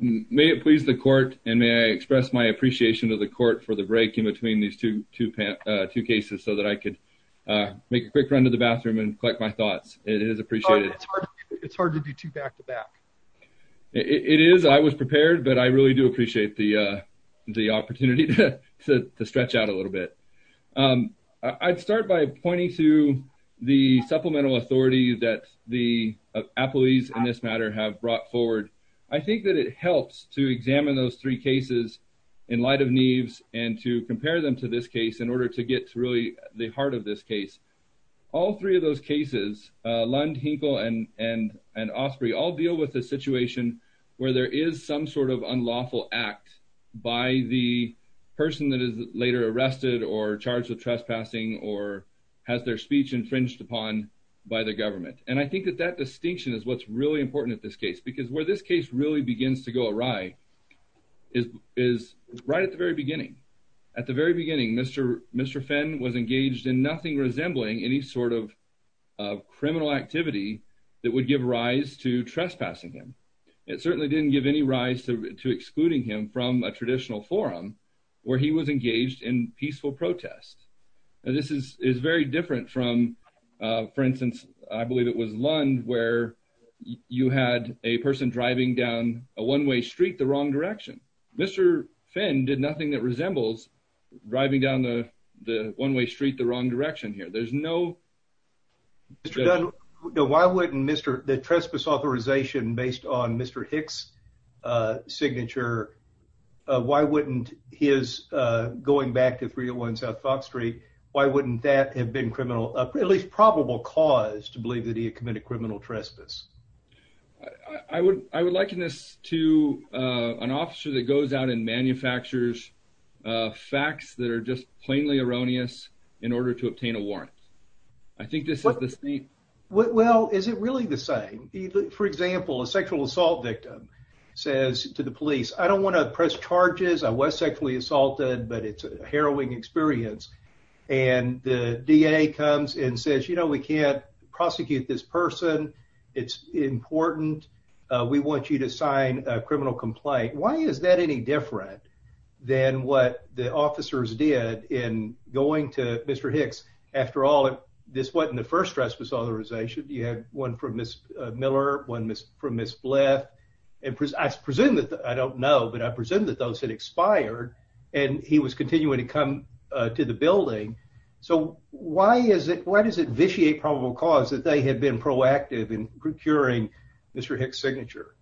May it please the court and may I express my appreciation to the court for the break in between these two cases so that I could make a quick run to the bathroom and collect my thoughts. It is appreciated. It's hard to do two back-to-back. It is. I was prepared, but I really do appreciate the opportunity to stretch out a little bit. I'd start by pointing to the supplemental authority that the appellees in this matter have brought forward. I think that it helps to examine those three cases in light of Neves and to compare them to this case in order to get to really the heart of this case. All three of those cases, Lund, Hinkle, and Osprey, all deal with a situation where there is some sort of unlawful act by the person that is later arrested or charged with trespassing or has their speech infringed upon by the government. I think that that distinction is what's really important in this case because where this case really begins to go awry is right at the very beginning. At the very beginning, Mr. Fenn was engaged in nothing resembling any sort of criminal activity that would give rise to trespassing him. It certainly didn't give any rise to excluding him from a traditional forum where he was engaged in peaceful protest. This is very different from, for instance, I believe it was Lund where you had a person driving down a one-way street the wrong direction. Mr. Fenn did nothing that resembles driving down the one-way street the wrong direction here. There's no... Mr. Dunn, why wouldn't the trespass authorization based on Mr. Hicks' signature, why wouldn't his going back to 301 South Fox Street, why wouldn't that have been criminal, at least probable cause to believe that he had committed criminal trespass? I would liken this to an officer that goes out and manufactures facts that are just plainly erroneous in order to obtain a warrant. I think this is the same... Well, is it really the same? For example, a sexual assault victim says to the police, I don't want to press charges. I was sexually assaulted, but it's a harrowing experience. And the DA comes and says, you know, we can't prosecute this person. It's important. We want you to sign a criminal complaint. Why is that any different than what the officers did in going to Mr. Hicks? After all, this wasn't the first trespass authorization. You had one from Ms. Miller, one from Ms. Blyth, and I don't know, but I presume that those had expired and he was continuing to come to the building. So why does it vitiate probable cause that they had been proactive in procuring Mr. Hicks' signature?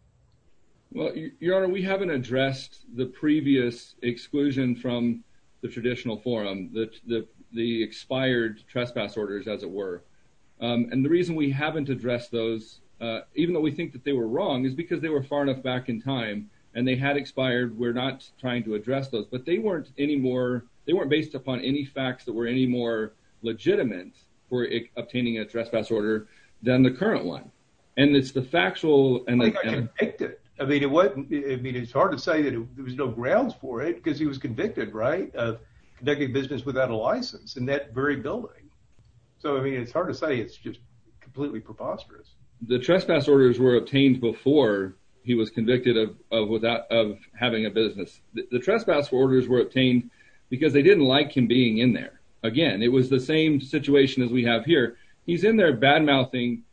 Well, Your Honor, we haven't addressed the previous exclusion from the traditional forum, the expired trespass orders, as it were. And the reason we haven't addressed those, even though we think that they were wrong, is because they were far enough back in time and they had expired. We're not trying to address those, but they weren't based upon any facts that were any more legitimate for obtaining a trespass order than the current one. And it's the factual... I think I convicted. I mean, it's hard to say that there was no grounds for it because he was convicted, right, of conducting business without a license in that very building. So I mean, it's hard to say. It's just completely preposterous. The trespass orders were obtained before he was convicted of having a business. The trespass orders were obtained because they didn't like him being in there. Again, it was the same situation as we have here. He's in there bad-mouthing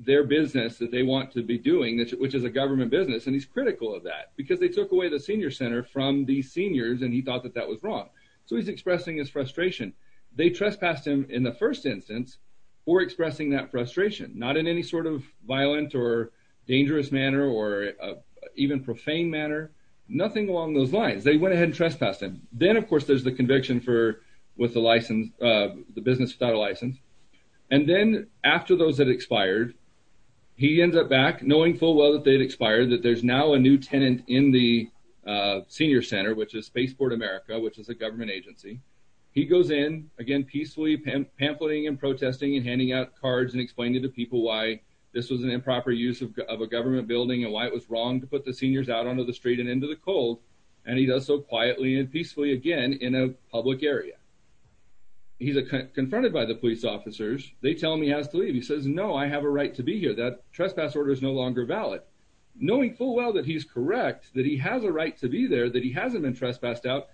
their business that they want to be doing, which is a government business, and he's critical of that because they took away the senior center from these seniors and he thought that that was wrong. So he's expressing his frustration. They trespassed him in the first instance for expressing that frustration, not in any sort of violent or dangerous manner or even profane manner. Nothing along those lines. They went ahead and trespassed him. Then, of course, there's the conviction with the business without a license. And then after those had expired, he ends up back, knowing full well that they had expired, that there's now a new tenant in the senior center, which is Spaceport America, which is a government agency. He goes in, again, peacefully pamphleting and protesting and handing out cards and explaining to people why this was an improper use of a government building and why it was wrong to put the seniors out onto the street and into the cold. And he does so quietly and peacefully again in a public area. He's confronted by the police officers. They tell him he has to leave. He says, no, I have a right to be here. That trespass order is no longer valid. Knowing full well that he's correct, that he has a right to be there, that he hasn't been trespassed out,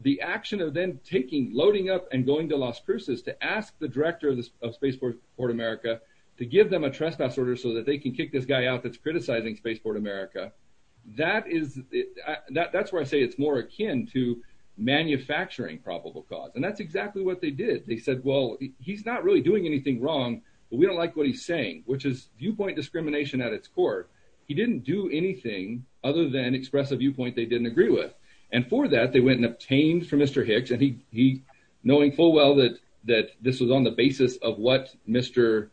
the action of then loading up and going to Las Cruces to ask the director of Spaceport America to give them a trespass order so that they can kick this guy out that's criticizing Spaceport America, that's where I say it's more akin to manufacturing probable cause. And that's exactly what they did. They said, well, he's not really doing anything wrong, but we don't like what he's saying, which is viewpoint discrimination at its core. He didn't do anything other than express a viewpoint they didn't agree with. And for that, they went and obtained from Mr. Hicks, and he, knowing full well that this was on the basis of what Mr.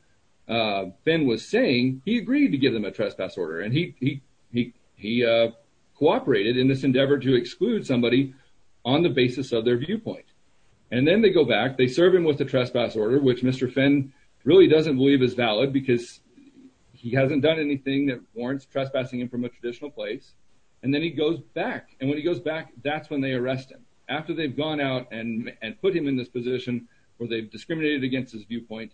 Finn was saying, he agreed to give them a trespass order. And he cooperated in this endeavor to exclude somebody on the basis of their viewpoint. And then they go back, they serve him with a trespass order, which Mr. Finn really doesn't believe is valid, because he hasn't done anything that warrants trespassing him from a traditional place. And then he goes back. And when he goes back, that's when they arrest him. After they've gone out and put him in this position, where they've discriminated against his viewpoint,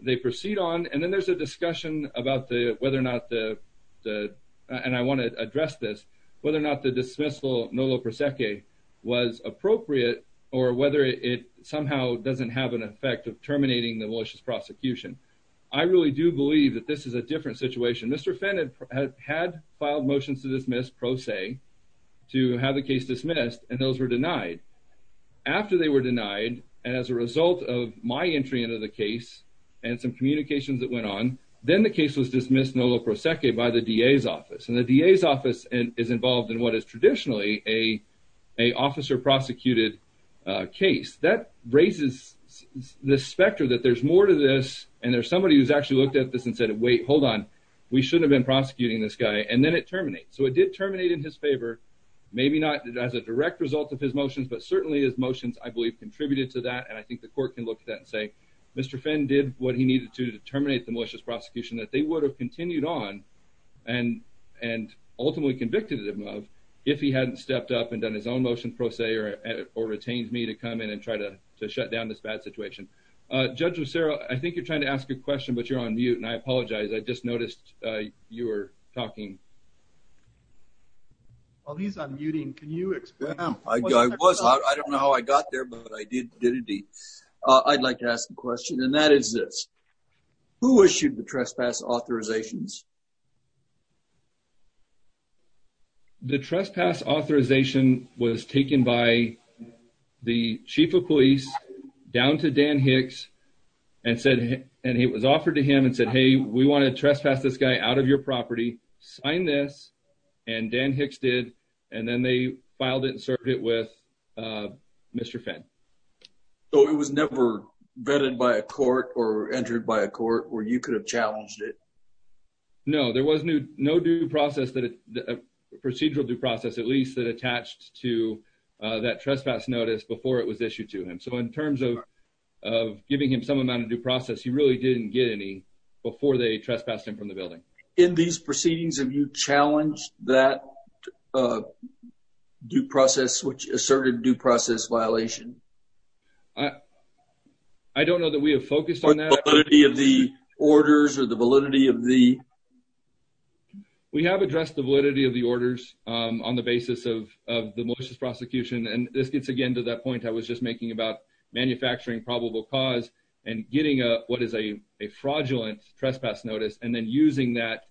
they proceed on. And then there's a discussion about whether or not the, and I want to address this, whether or not the dismissal nolo prosecce was appropriate, or whether it somehow doesn't have an effect of terminating the malicious prosecution. I really do believe that this is a different situation. Mr. Finn had had filed motions to dismiss pro se, to have the case dismissed, and those were denied. After they were denied, as a result of my entry into the case, and some communications that went on, then the case was dismissed nolo prosecce by the DA's office. And the DA's office is involved in what is traditionally a, a officer prosecuted case That raises the specter that there's more to this, and there's somebody who's actually looked at this and said, wait, hold on, we shouldn't have been prosecuting this guy. And then it terminates. So it did terminate in his favor. Maybe not as a direct result of his motions, but certainly his motions, I believe, contributed to that. And I think the court can look at that and say, Mr. Finn did what he needed to to terminate the malicious prosecution that they would have continued on and, and ultimately convicted him of if he hadn't stepped up and done his own motion pro se, or, or retained me to come in and try to shut down this bad situation. Judge Lucero, I think you're trying to ask a question, but you're on mute, and I apologize. I just noticed you were talking while he's on muting. Can you explain? I was, I don't know how I got there, but I did, did indeed, I'd like to ask a question and that is this, who issued the trespass authorizations? The trespass authorization was taken by the chief of police down to Dan Hicks and said, and it was offered to him and said, Hey, we want to trespass this guy out of your property, sign this. And Dan Hicks did. And then they filed it and served it with Mr. Finn. So it was never vetted by a court or entered by a court where you could have challenged it? No, there was no, no due process that procedural due process, at least that attached to that trespass notice before it was issued to him. So in terms of, of giving him some amount of due process, he really didn't get any before they trespassed him from the building. In these proceedings, have you challenged that due process, which asserted due process violation? I don't know that we have focused on that, the orders or the validity of the, we have addressed the validity of the orders, um, on the basis of, of the malicious prosecution. And this gets again to that point I was just making about manufacturing probable cause and getting a, what is a, a fraudulent trespass notice and then using that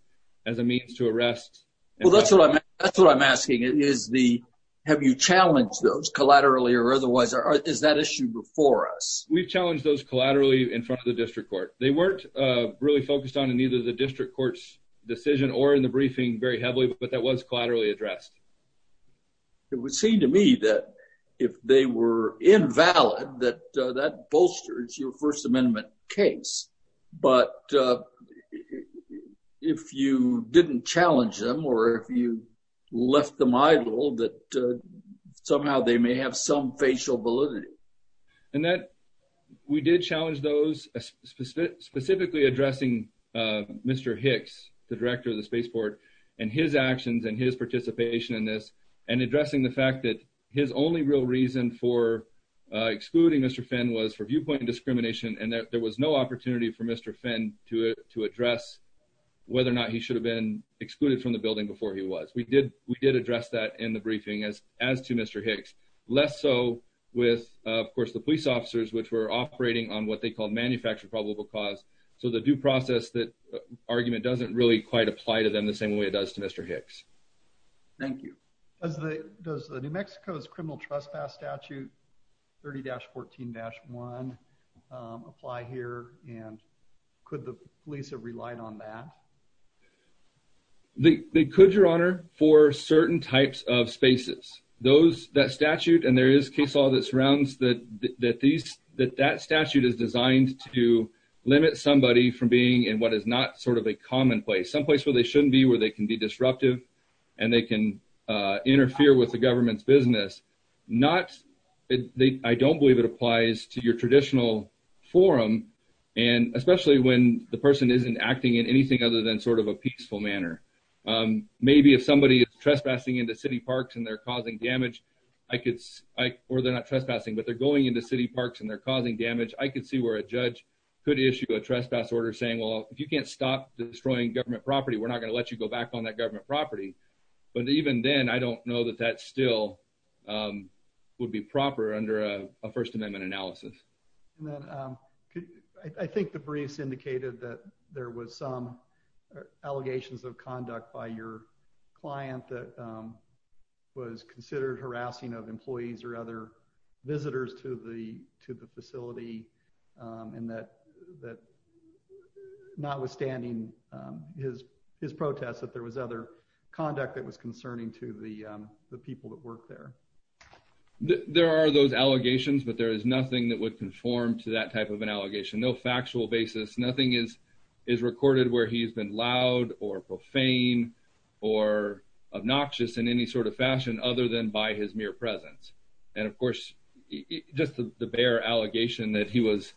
as a means to arrest. Well, that's what I'm, that's what I'm asking is the, have you challenged those collaterally or otherwise, or is that issue before us? We've challenged those collaterally in front of the district court. They weren't really focused on in either the district court's decision or in the briefing very heavily, but that was collaterally addressed. It would seem to me that if they were invalid, that, uh, that bolsters your first amendment case. But, uh, if you didn't challenge them or if you left them idle, that, uh, somehow they may have some facial validity. And that we did challenge those specifically addressing, uh, Mr. Hicks, the director of the spaceport and his actions and his participation. And addressing the fact that his only real reason for, uh, excluding Mr. Finn was for viewpoint and discrimination. And there was no opportunity for Mr. Finn to, to address whether or not he should have been excluded from the building before he was, we did, we did address that in the briefing as, as to Mr. Hicks, less so with, uh, of course the police officers, which were operating on what they called manufactured probable cause. So the due process that argument doesn't really quite apply to them the same way it does to Mr. Hicks. Thank you. Does the, does the New Mexico's criminal trespass statute 30-14-1, um, apply here? And could the police have relied on that? They, they could your honor for certain types of spaces, those that statute, and there is case law that surrounds that, that these, that that statute is designed to limit somebody from being in what is not sort of a commonplace someplace where they shouldn't be, where they can be disruptive. And they can, uh, interfere with the government's business, not they, I don't believe it applies to your traditional forum. And especially when the person isn't acting in anything other than sort of a peaceful manner. Um, maybe if somebody is trespassing into city parks and they're causing damage, I could, I, or they're not trespassing, but they're going into city parks and they're causing damage. I could see where a judge could issue a trespass order saying, well, if you can't stop destroying government property, we're not going to let you go back on that property. But even then, I don't know that that still, um, would be proper under a first amendment analysis. And then, um, I think the briefs indicated that there was some allegations of conduct by your client that, um, was considered harassing of employees or other visitors to the, to the facility. Um, and that, that not withstanding, um, his, his protests, that there was other conduct that was concerning to the, um, the people that work there. There are those allegations, but there is nothing that would conform to that type of an allegation. No factual basis, nothing is, is recorded where he's been loud or profane or obnoxious in any sort of fashion other than by his mere presence. And of course, just the bare allegation that he was,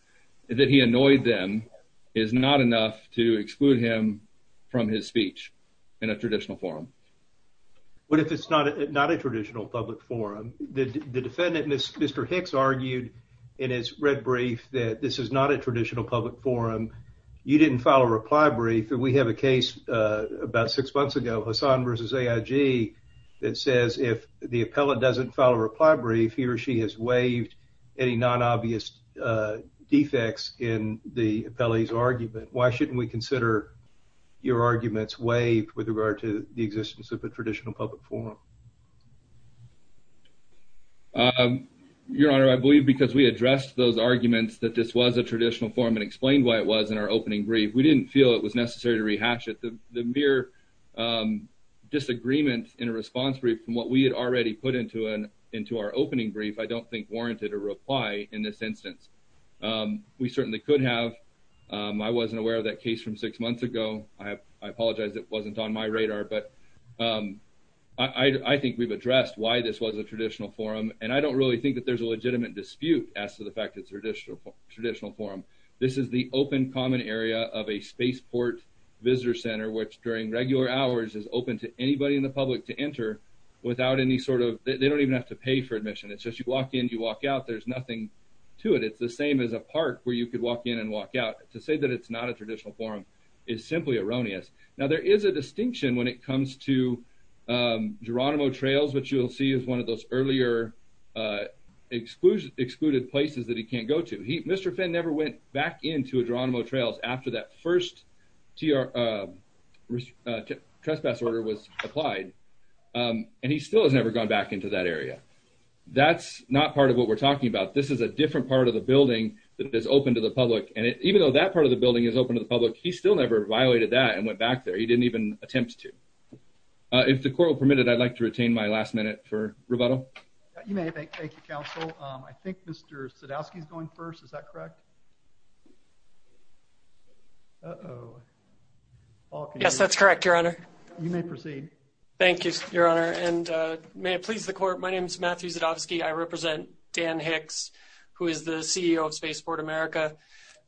that he annoyed them is not enough to exclude him from his speech in a traditional forum. But if it's not, not a traditional public forum, the defendant, Mr. Hicks argued in his red brief that this is not a traditional public forum. You didn't file a reply brief. And we have a case, uh, about six months ago, Hassan versus AIG that says if the reply brief he or she has waived any non-obvious, uh, defects in the appellee's argument, why shouldn't we consider your arguments waived with regard to the existence of a traditional public forum? Um, Your Honor, I believe because we addressed those arguments that this was a traditional forum and explained why it was in our opening brief, we didn't feel it was necessary to rehash it. The, the mere, um, disagreement in a response brief from what we had already put into an, into our opening brief, I don't think warranted a reply in this instance. Um, we certainly could have. Um, I wasn't aware of that case from six months ago. I have, I apologize. It wasn't on my radar, but, um, I, I think we've addressed why this was a traditional forum and I don't really think that there's a legitimate dispute as to the fact that traditional, traditional forum, this is the open common area of a spaceport visitor center, which during regular hours is open to anybody in the public to enter without any sort of, they don't even have to pay for admission. It's just, you walk in, you walk out, there's nothing to it. It's the same as a park where you could walk in and walk out to say that it's not a traditional forum is simply erroneous. Now there is a distinction when it comes to, um, Geronimo trails, which you'll see is one of those earlier, uh, exclusion excluded places that he can't go to. He, Mr. Finn never went back into Geronimo trails after that first TR, um, uh, trespass order was applied. Um, and he still has never gone back into that area. That's not part of what we're talking about. This is a different part of the building that is open to the public. And even though that part of the building is open to the public, he still never violated that and went back there. He didn't even attempt to, uh, if the court will permit it, I'd like to retain my last minute for rebuttal. Yeah, you may have a council. Um, I think Mr. Sadowski is going first. Is that correct? Oh, yes, that's correct. You may proceed. Thank you, your honor. And, uh, may it please the court. My name is Matthew Sadowski. I represent Dan Hicks, who is the CEO of Spaceport America.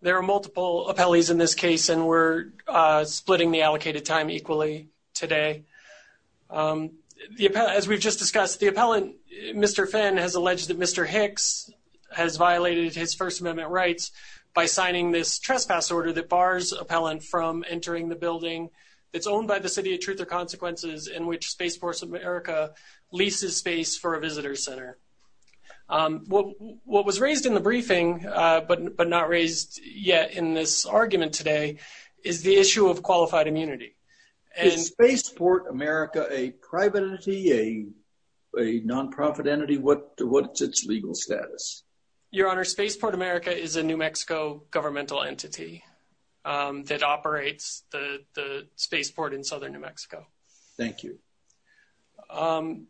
There are multiple appellees in this case, and we're, uh, splitting the allocated time equally today. Um, as we've just discussed the appellant, Mr. Finn has alleged that Mr. Hicks has violated his first amendment rights by signing this trespass order that bars appellant from entering the building that's owned by the city of truth or consequences in which Spaceport America leases space for a visitor center. Um, what, what was raised in the briefing, uh, but, but not raised yet in this argument today is the issue of qualified immunity and Spaceport America, a private entity, a, a nonprofit entity. What, what's its legal status? Your honor, Spaceport America is a New Mexico governmental entity. Um, that operates the, the Spaceport in Southern New Mexico. Thank you. Um,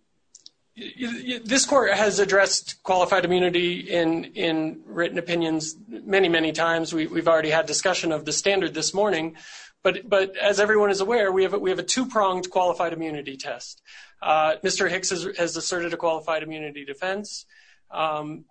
this court has addressed qualified immunity in, in written opinions, many, many times. We we've already had discussion of the standard this morning, but, but as everyone is aware, we have, we have a two pronged qualified immunity test. Uh, Mr. Hicks has asserted a qualified immunity defense. Um,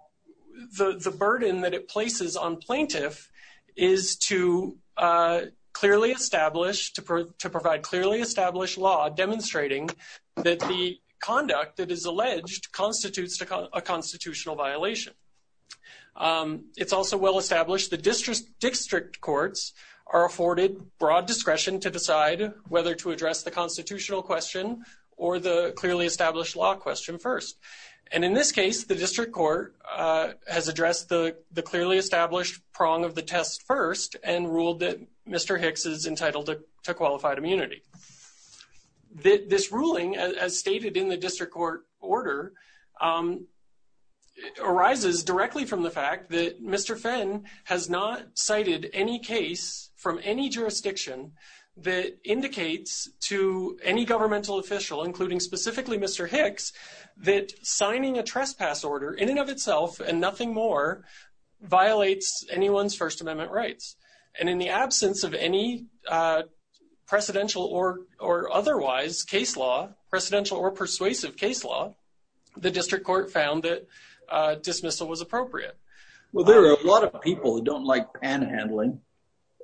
the, the burden that it places on plaintiff is to, uh, clearly established to, to provide clearly established law demonstrating that the conduct that is alleged constitutes a constitutional violation. Um, it's also well established. The district district courts are afforded broad discretion to decide whether to address the constitutional question or the clearly established law question first. And in this case, the district court, uh, has addressed the, the clearly established prong of the test first and ruled that Mr. Hicks is entitled to, to qualified immunity. The, this ruling as stated in the district court order, um, arises directly from the fact that Mr. Fenn has not cited any case from any jurisdiction that indicates to any signing a trespass order in and of itself and nothing more violates anyone's first amendment rights. And in the absence of any, uh, presidential or, or otherwise case law, presidential or persuasive case law, the district court found that a dismissal was appropriate. Well, there are a lot of people who don't like panhandling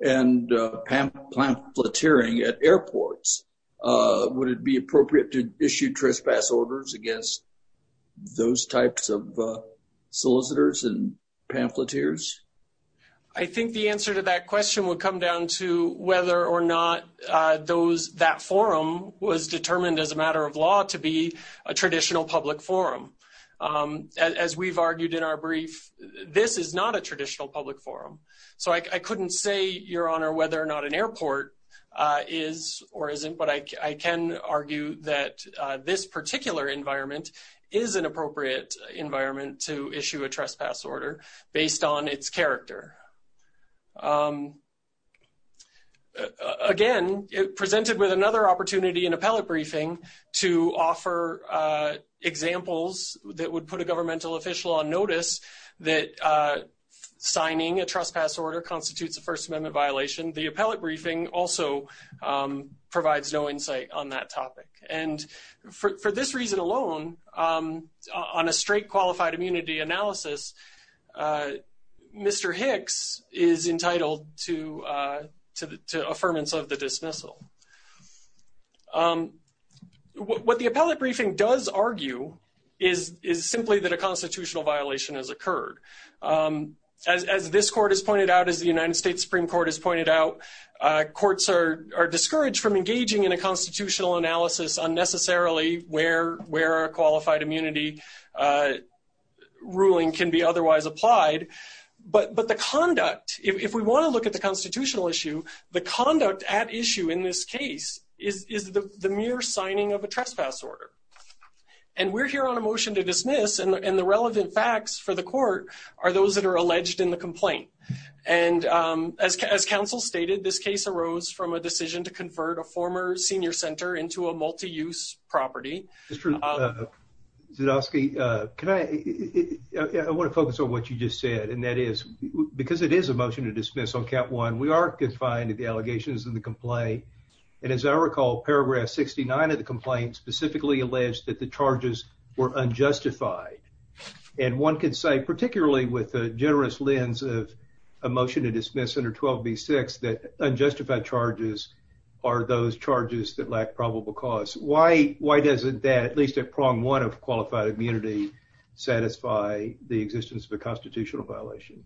and pam pamphleteering at airports. Uh, would it be appropriate to issue trespass orders against those types of solicitors and pamphleteers? I think the answer to that question would come down to whether or not, uh, those that forum was determined as a matter of law to be a traditional public forum. Um, as we've argued in our brief, this is not a traditional public forum. So I, I couldn't say your honor, whether or not an airport, uh, is or isn't, but I, I can argue that, uh, this particular environment is an appropriate environment to issue a trespass order based on its character. Um, again, it presented with another opportunity in appellate briefing to offer, uh, examples that would put a governmental official on notice that, uh, signing a trespass order constitutes a first amendment violation. The appellate briefing also, um, provides no insight on that topic. And for this reason alone, um, on a straight qualified immunity analysis, uh, Mr. Hicks is entitled to, uh, to the, to affirmance of the dismissal. Um, what the appellate briefing does argue is, is simply that a constitutional violation has occurred. Um, as, as this court has pointed out, as the United States Supreme Court has pointed out, uh, courts are, are discouraged from engaging in a constitutional analysis unnecessarily where, where a qualified immunity, uh, ruling can be otherwise applied, but, but the conduct, if we want to look at the constitutional issue, the conduct at issue in this case is, is the, the mere signing of a trespass order. And we're here on a motion to dismiss and the, and the relevant facts for the those that are alleged in the complaint. And, um, as, as council stated, this case arose from a decision to convert a former senior center into a multi-use property. It's true. Zdowski. Uh, can I, I want to focus on what you just said, and that is because it is a motion to dismiss on cap one, we are confined to the allegations in the complaint. And as I recall, paragraph 69 of the complaint specifically alleged that the charges were unjustified. And one could say, particularly with a generous lens of emotion to dismiss under 12 B six, that unjustified charges are those charges that lack probable cause. Why, why doesn't that at least at prong one of qualified immunity satisfy the existence of a constitutional violation?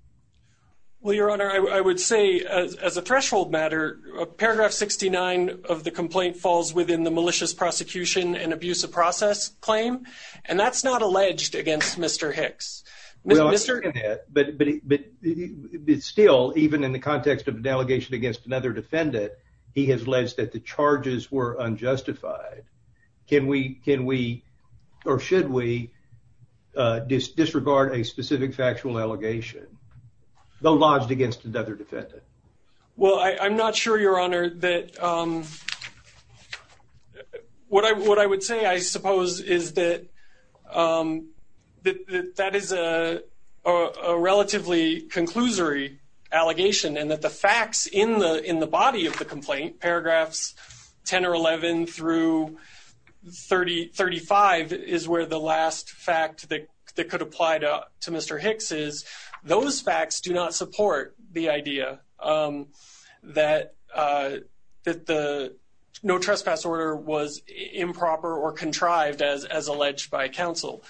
Well, your honor, I would say as a threshold matter, paragraph 69 of the complaint falls within the malicious prosecution and abuse of process claim. And that's not alleged against Mr. Hicks, Mr. But, but, but it's still, even in the context of an allegation against another defendant, he has alleged that the charges were unjustified. Can we, can we, or should we, uh, disregard a specific factual allegation though lodged against another defendant? Well, I, I'm not sure your honor that, um, what I, what I would say, I suppose is that, um, that, that, that is a, a relatively conclusory allegation and that the facts in the, in the body of the complaint, paragraphs 10 or 11 through 30, 35 is where the last fact that could apply to Mr. Hicks is those facts do not support the idea, um, that, uh, that the no contrived as, as alleged by counsel,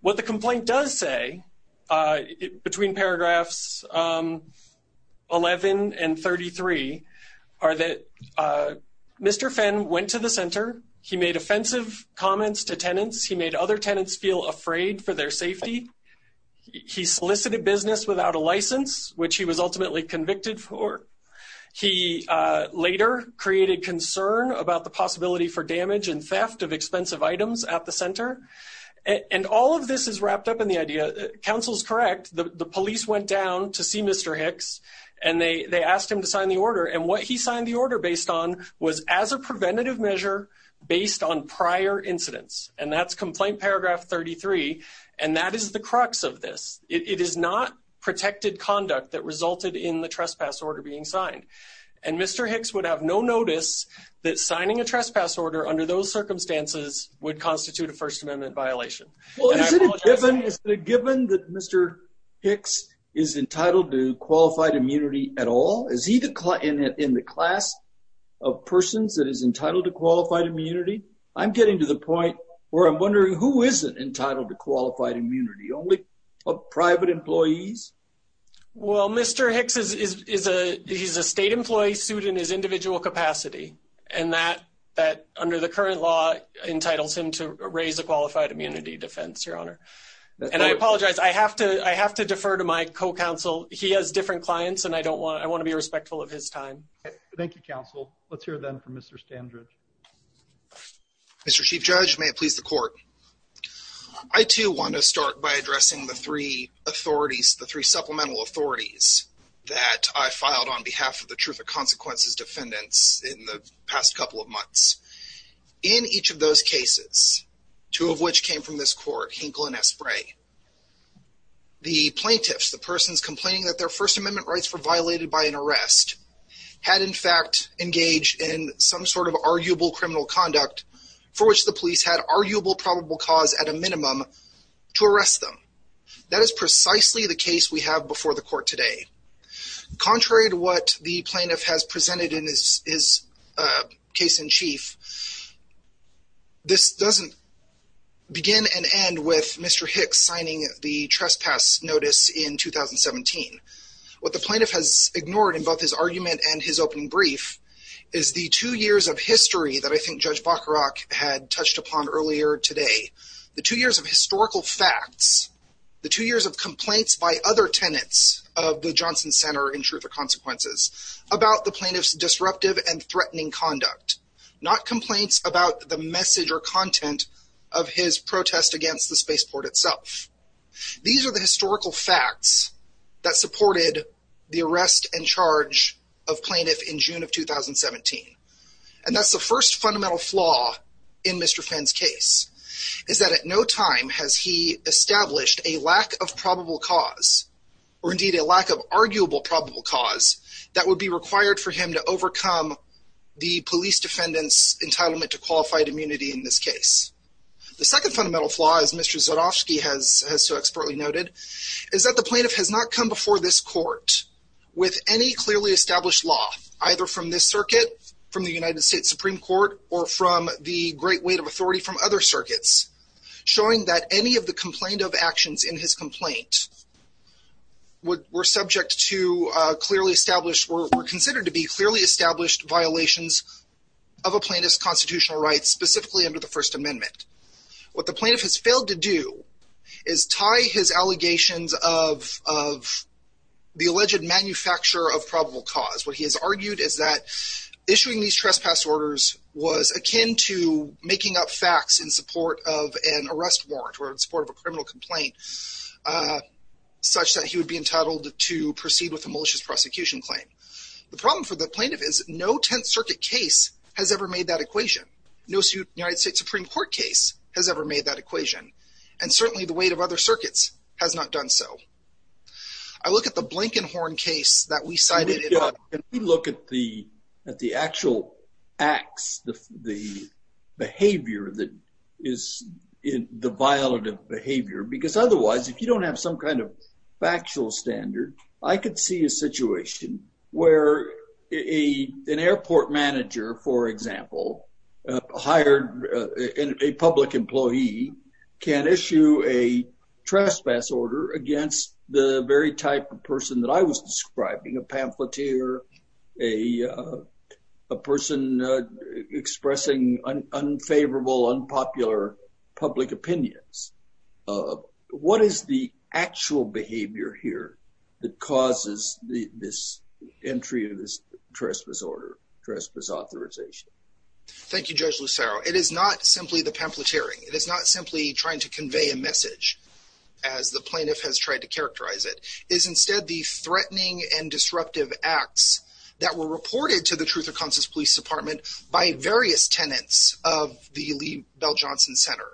what the complaint does say, uh, between paragraphs, um, 11 and 33 are that, uh, Mr. Fenn went to the center. He made offensive comments to tenants. He made other tenants feel afraid for their safety. He solicited business without a license, which he was ultimately convicted for. He, uh, later created concern about the possibility for damage and theft of expensive items at the center. And all of this is wrapped up in the idea counsel's correct. The police went down to see Mr. Hicks and they, they asked him to sign the order. And what he signed the order based on was as a preventative measure based on prior incidents. And that's complaint paragraph 33. And that is the crux of this. It is not protected conduct that resulted in the trespass order being signed. And Mr. Hicks would have no notice that signing a trespass order under those circumstances would constitute a first amendment violation. Well, is it a given that Mr. Hicks is entitled to qualified immunity at all? Is he the client in the class of persons that is entitled to qualified immunity? I'm getting to the point where I'm wondering who isn't entitled to qualified immunity, only private employees. Well, Mr. Hicks is, is, is a, he's a state employee suit in his individual capacity. And that, that under the current law entitles him to raise a qualified immunity defense, your honor. And I apologize. I have to, I have to defer to my co-counsel. He has different clients and I don't want to, I want to be respectful of his time. Thank you, counsel. Let's hear then from Mr. Standridge. Mr. Chief judge, may it please the court. I too want to start by addressing the three authorities, the three supplemental authorities that I filed on behalf of the truth of consequences defendants in the past couple of months. In each of those cases, two of which came from this court, Hinkle and Esprit. The plaintiffs, the persons complaining that their first amendment rights were violated by an arrest had in fact engaged in some sort of arguable criminal conduct for which the police had arguable probable cause at a minimum to arrest them. That is precisely the case we have before the court today. Contrary to what the plaintiff has presented in his case in chief, this doesn't begin and end with Mr. Hicks signing the trespass notice in 2017. What the plaintiff has ignored in both his argument and his opening brief is the two years of history that I think judge Bacarach had touched upon earlier today. The two years of historical facts, the two years of complaints by other tenants of the Johnson Center in truth or consequences about the plaintiff's disruptive and threatening conduct, not complaints about the message or content of his protest against the spaceport itself. These are the historical facts that supported the arrest and charge of plaintiff in June of 2017. And that's the first fundamental flaw in Mr. Fenn's case is that at no time has he established a lack of probable cause or indeed a lack of arguable probable cause that would be required for him to overcome the police defendant's entitlement to qualified immunity in this case. The second fundamental flaw is Mr. Zorowski has so expertly noted is that the plaintiff has not come before this court with any clearly established law, either from this circuit, from the United States Supreme Court, or from the great weight of authority from other plaintiffs in the United States Supreme Court, to come before this court with a criminal complaint. We're subject to clearly established, we're considered to be clearly established violations of a plaintiff's constitutional rights, specifically under the First Amendment. What the plaintiff has failed to do is tie his allegations of of the alleged manufacture of probable cause. What he has argued is that issuing these trespass orders was akin to making up facts in support of an arrest warrant or in support of a criminal complaint, such that he would be entitled to proceed with a malicious prosecution claim. The problem for the plaintiff is no 10th Circuit case has ever made that equation. No United States Supreme Court case has ever made that equation. And certainly the weight of other circuits has not done so. I look at the Blankenhorn case that we cited, and we look at the at the actual acts, the behavior that is the violative behavior, because otherwise, if you don't have some kind of factual standard, I could see a situation where a an airport manager, for example, hired a public employee can issue a trespass order against the very type of person that I was describing, a pamphleteer, a person expressing unfavorable, unpopular public opinions. What is the actual behavior here that causes this entry of this trespass order, trespass authorization? Thank you, Judge Lucero. It is not simply the pamphleteering. It is not simply trying to convey a message, as the plaintiff has tried to characterize it, is instead the threatening and disruptive acts that were reported to the Truth and Conscience Police Department by various tenants of the Lee Bell Johnson Center,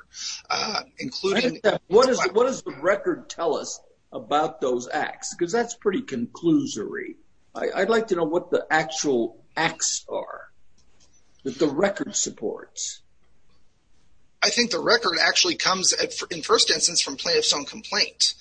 including... What does the record tell us about those acts? Because that's pretty conclusory. I'd like to know what the actual acts are that the record supports. I think the record actually comes, in first instance, from plaintiff's own complaint,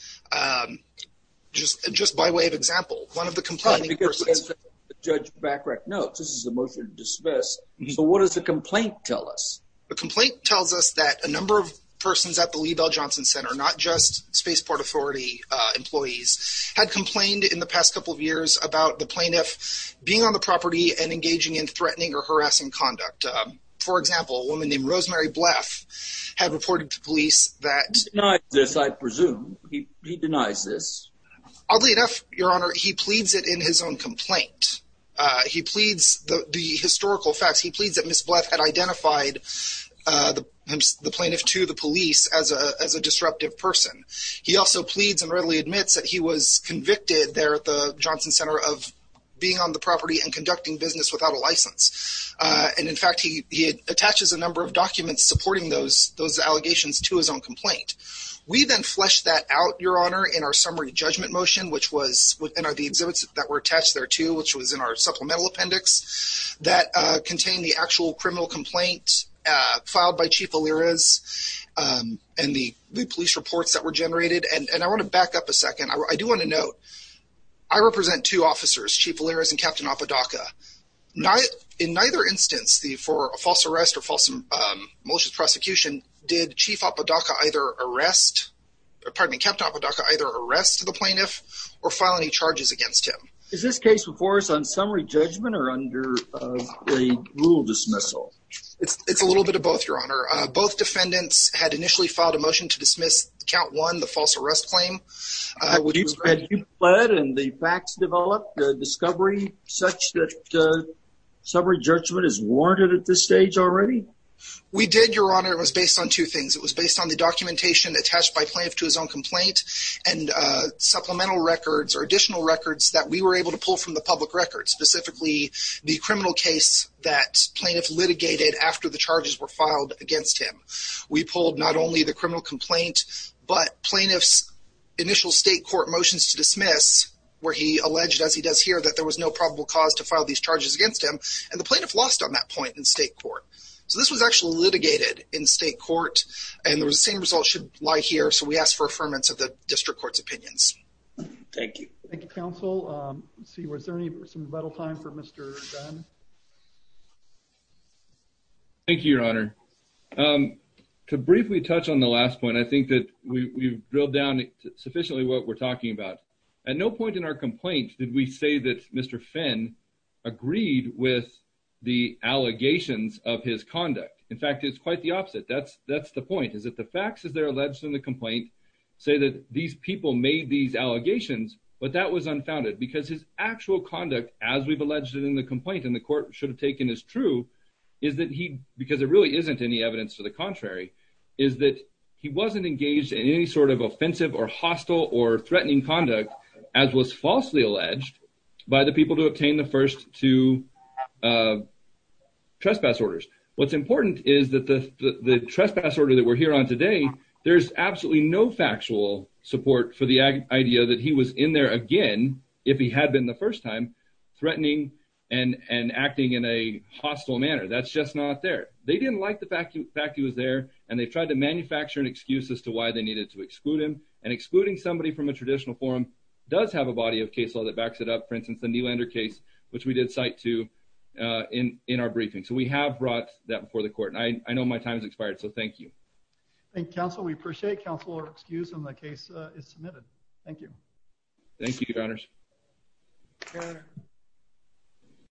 just by way of example, one of the complaining persons. Because, as Judge Bachrach notes, this is a motion to dismiss, so what does the complaint tell us? The complaint tells us that a number of persons at the Lee Bell Johnson Center, not just Spaceport Authority employees, had complained in the past couple of years about the plaintiff being on the property and engaging in threatening or harassing conduct. For example, a woman named Rosemary Bleff had reported to police that... He denies this, I presume. He denies this. Oddly enough, Your Honor, he pleads it in his own complaint. He pleads the historical facts. He pleads that Ms. Bleff had identified the plaintiff to the police as a disruptive person. He also pleads and readily admits that he was convicted there at the Johnson Center of being on the property and conducting business without a license. And in fact, he attaches a number of documents supporting those allegations to his own complaint. We then fleshed that out, Your Honor, in our summary judgment motion, which was within the exhibits that were attached there, too, which was in our supplemental appendix that contained the actual criminal complaint filed by Chief Valiras and the police reports that were generated. And I want to back up a second. I do want to note, I represent two officers, Chief Valiras and Captain Apodaca. In neither instance, for a false arrest or false malicious prosecution, did Chief Apodaca either arrest, or pardon me, Captain Apodaca either arrest the plaintiff or file any charges against him? Is this case before us on summary judgment or under a rule dismissal? It's a little bit of both, Your Honor. Both defendants had initially filed a motion to dismiss count one, the false arrest claim. But you fled and the facts developed a discovery such that summary judgment is warranted at this stage already? We did, Your Honor. It was based on two things. It was based on the documentation attached by plaintiff to his own complaint and supplemental records or additional records that we were able to pull from the public records, specifically the criminal case that plaintiff litigated after the charges were filed against him. We pulled not only the criminal complaint, but plaintiff's initial state court motions to dismiss where he alleged, as he does here, that there was no probable cause to file these charges against him. And the plaintiff lost on that point in state court. So, this was actually litigated in state court and the same result should lie here. So, we ask for affirmance of the district court's opinions. Thank you. Thank you, counsel. Let's see, was there any some rebuttal time for Mr. Dunn? Thank you, Your Honor. To briefly touch on the last point, I think that we've drilled down sufficiently what we're talking about. At no point in our complaint did we say that Mr. Finn agreed with the allegations of his conduct. In fact, it's quite the opposite. That's the point, is that the facts as they're alleged in the complaint say that these people made these allegations, but that was unfounded because his actual conduct as we've alleged in the complaint, and the court should have taken as true, is that he, because there really isn't any evidence to the contrary, is that he wasn't engaged in any sort of offensive or hostile or threatening conduct as was falsely alleged by the people who obtained the first two trespass orders. What's important is that the trespass order that we're here on today, there's absolutely no factual support for the idea that he was in there again, if he had been the first time, threatening and acting in a hostile manner. That's just not there. They didn't like the fact that he was there, and they tried to manufacture an excuse as to why they needed to exclude him, and excluding somebody from a traditional forum does have a body of case law that backs it up, for instance, the Nylander case, which we did cite to in our briefing. So we have brought that before the court, and I know my time has expired, so thank you. Thank you, counsel. We appreciate counsel's excuse, and the case is submitted. Thank you. Thank you, Your Honors. Thank you, Your Honor.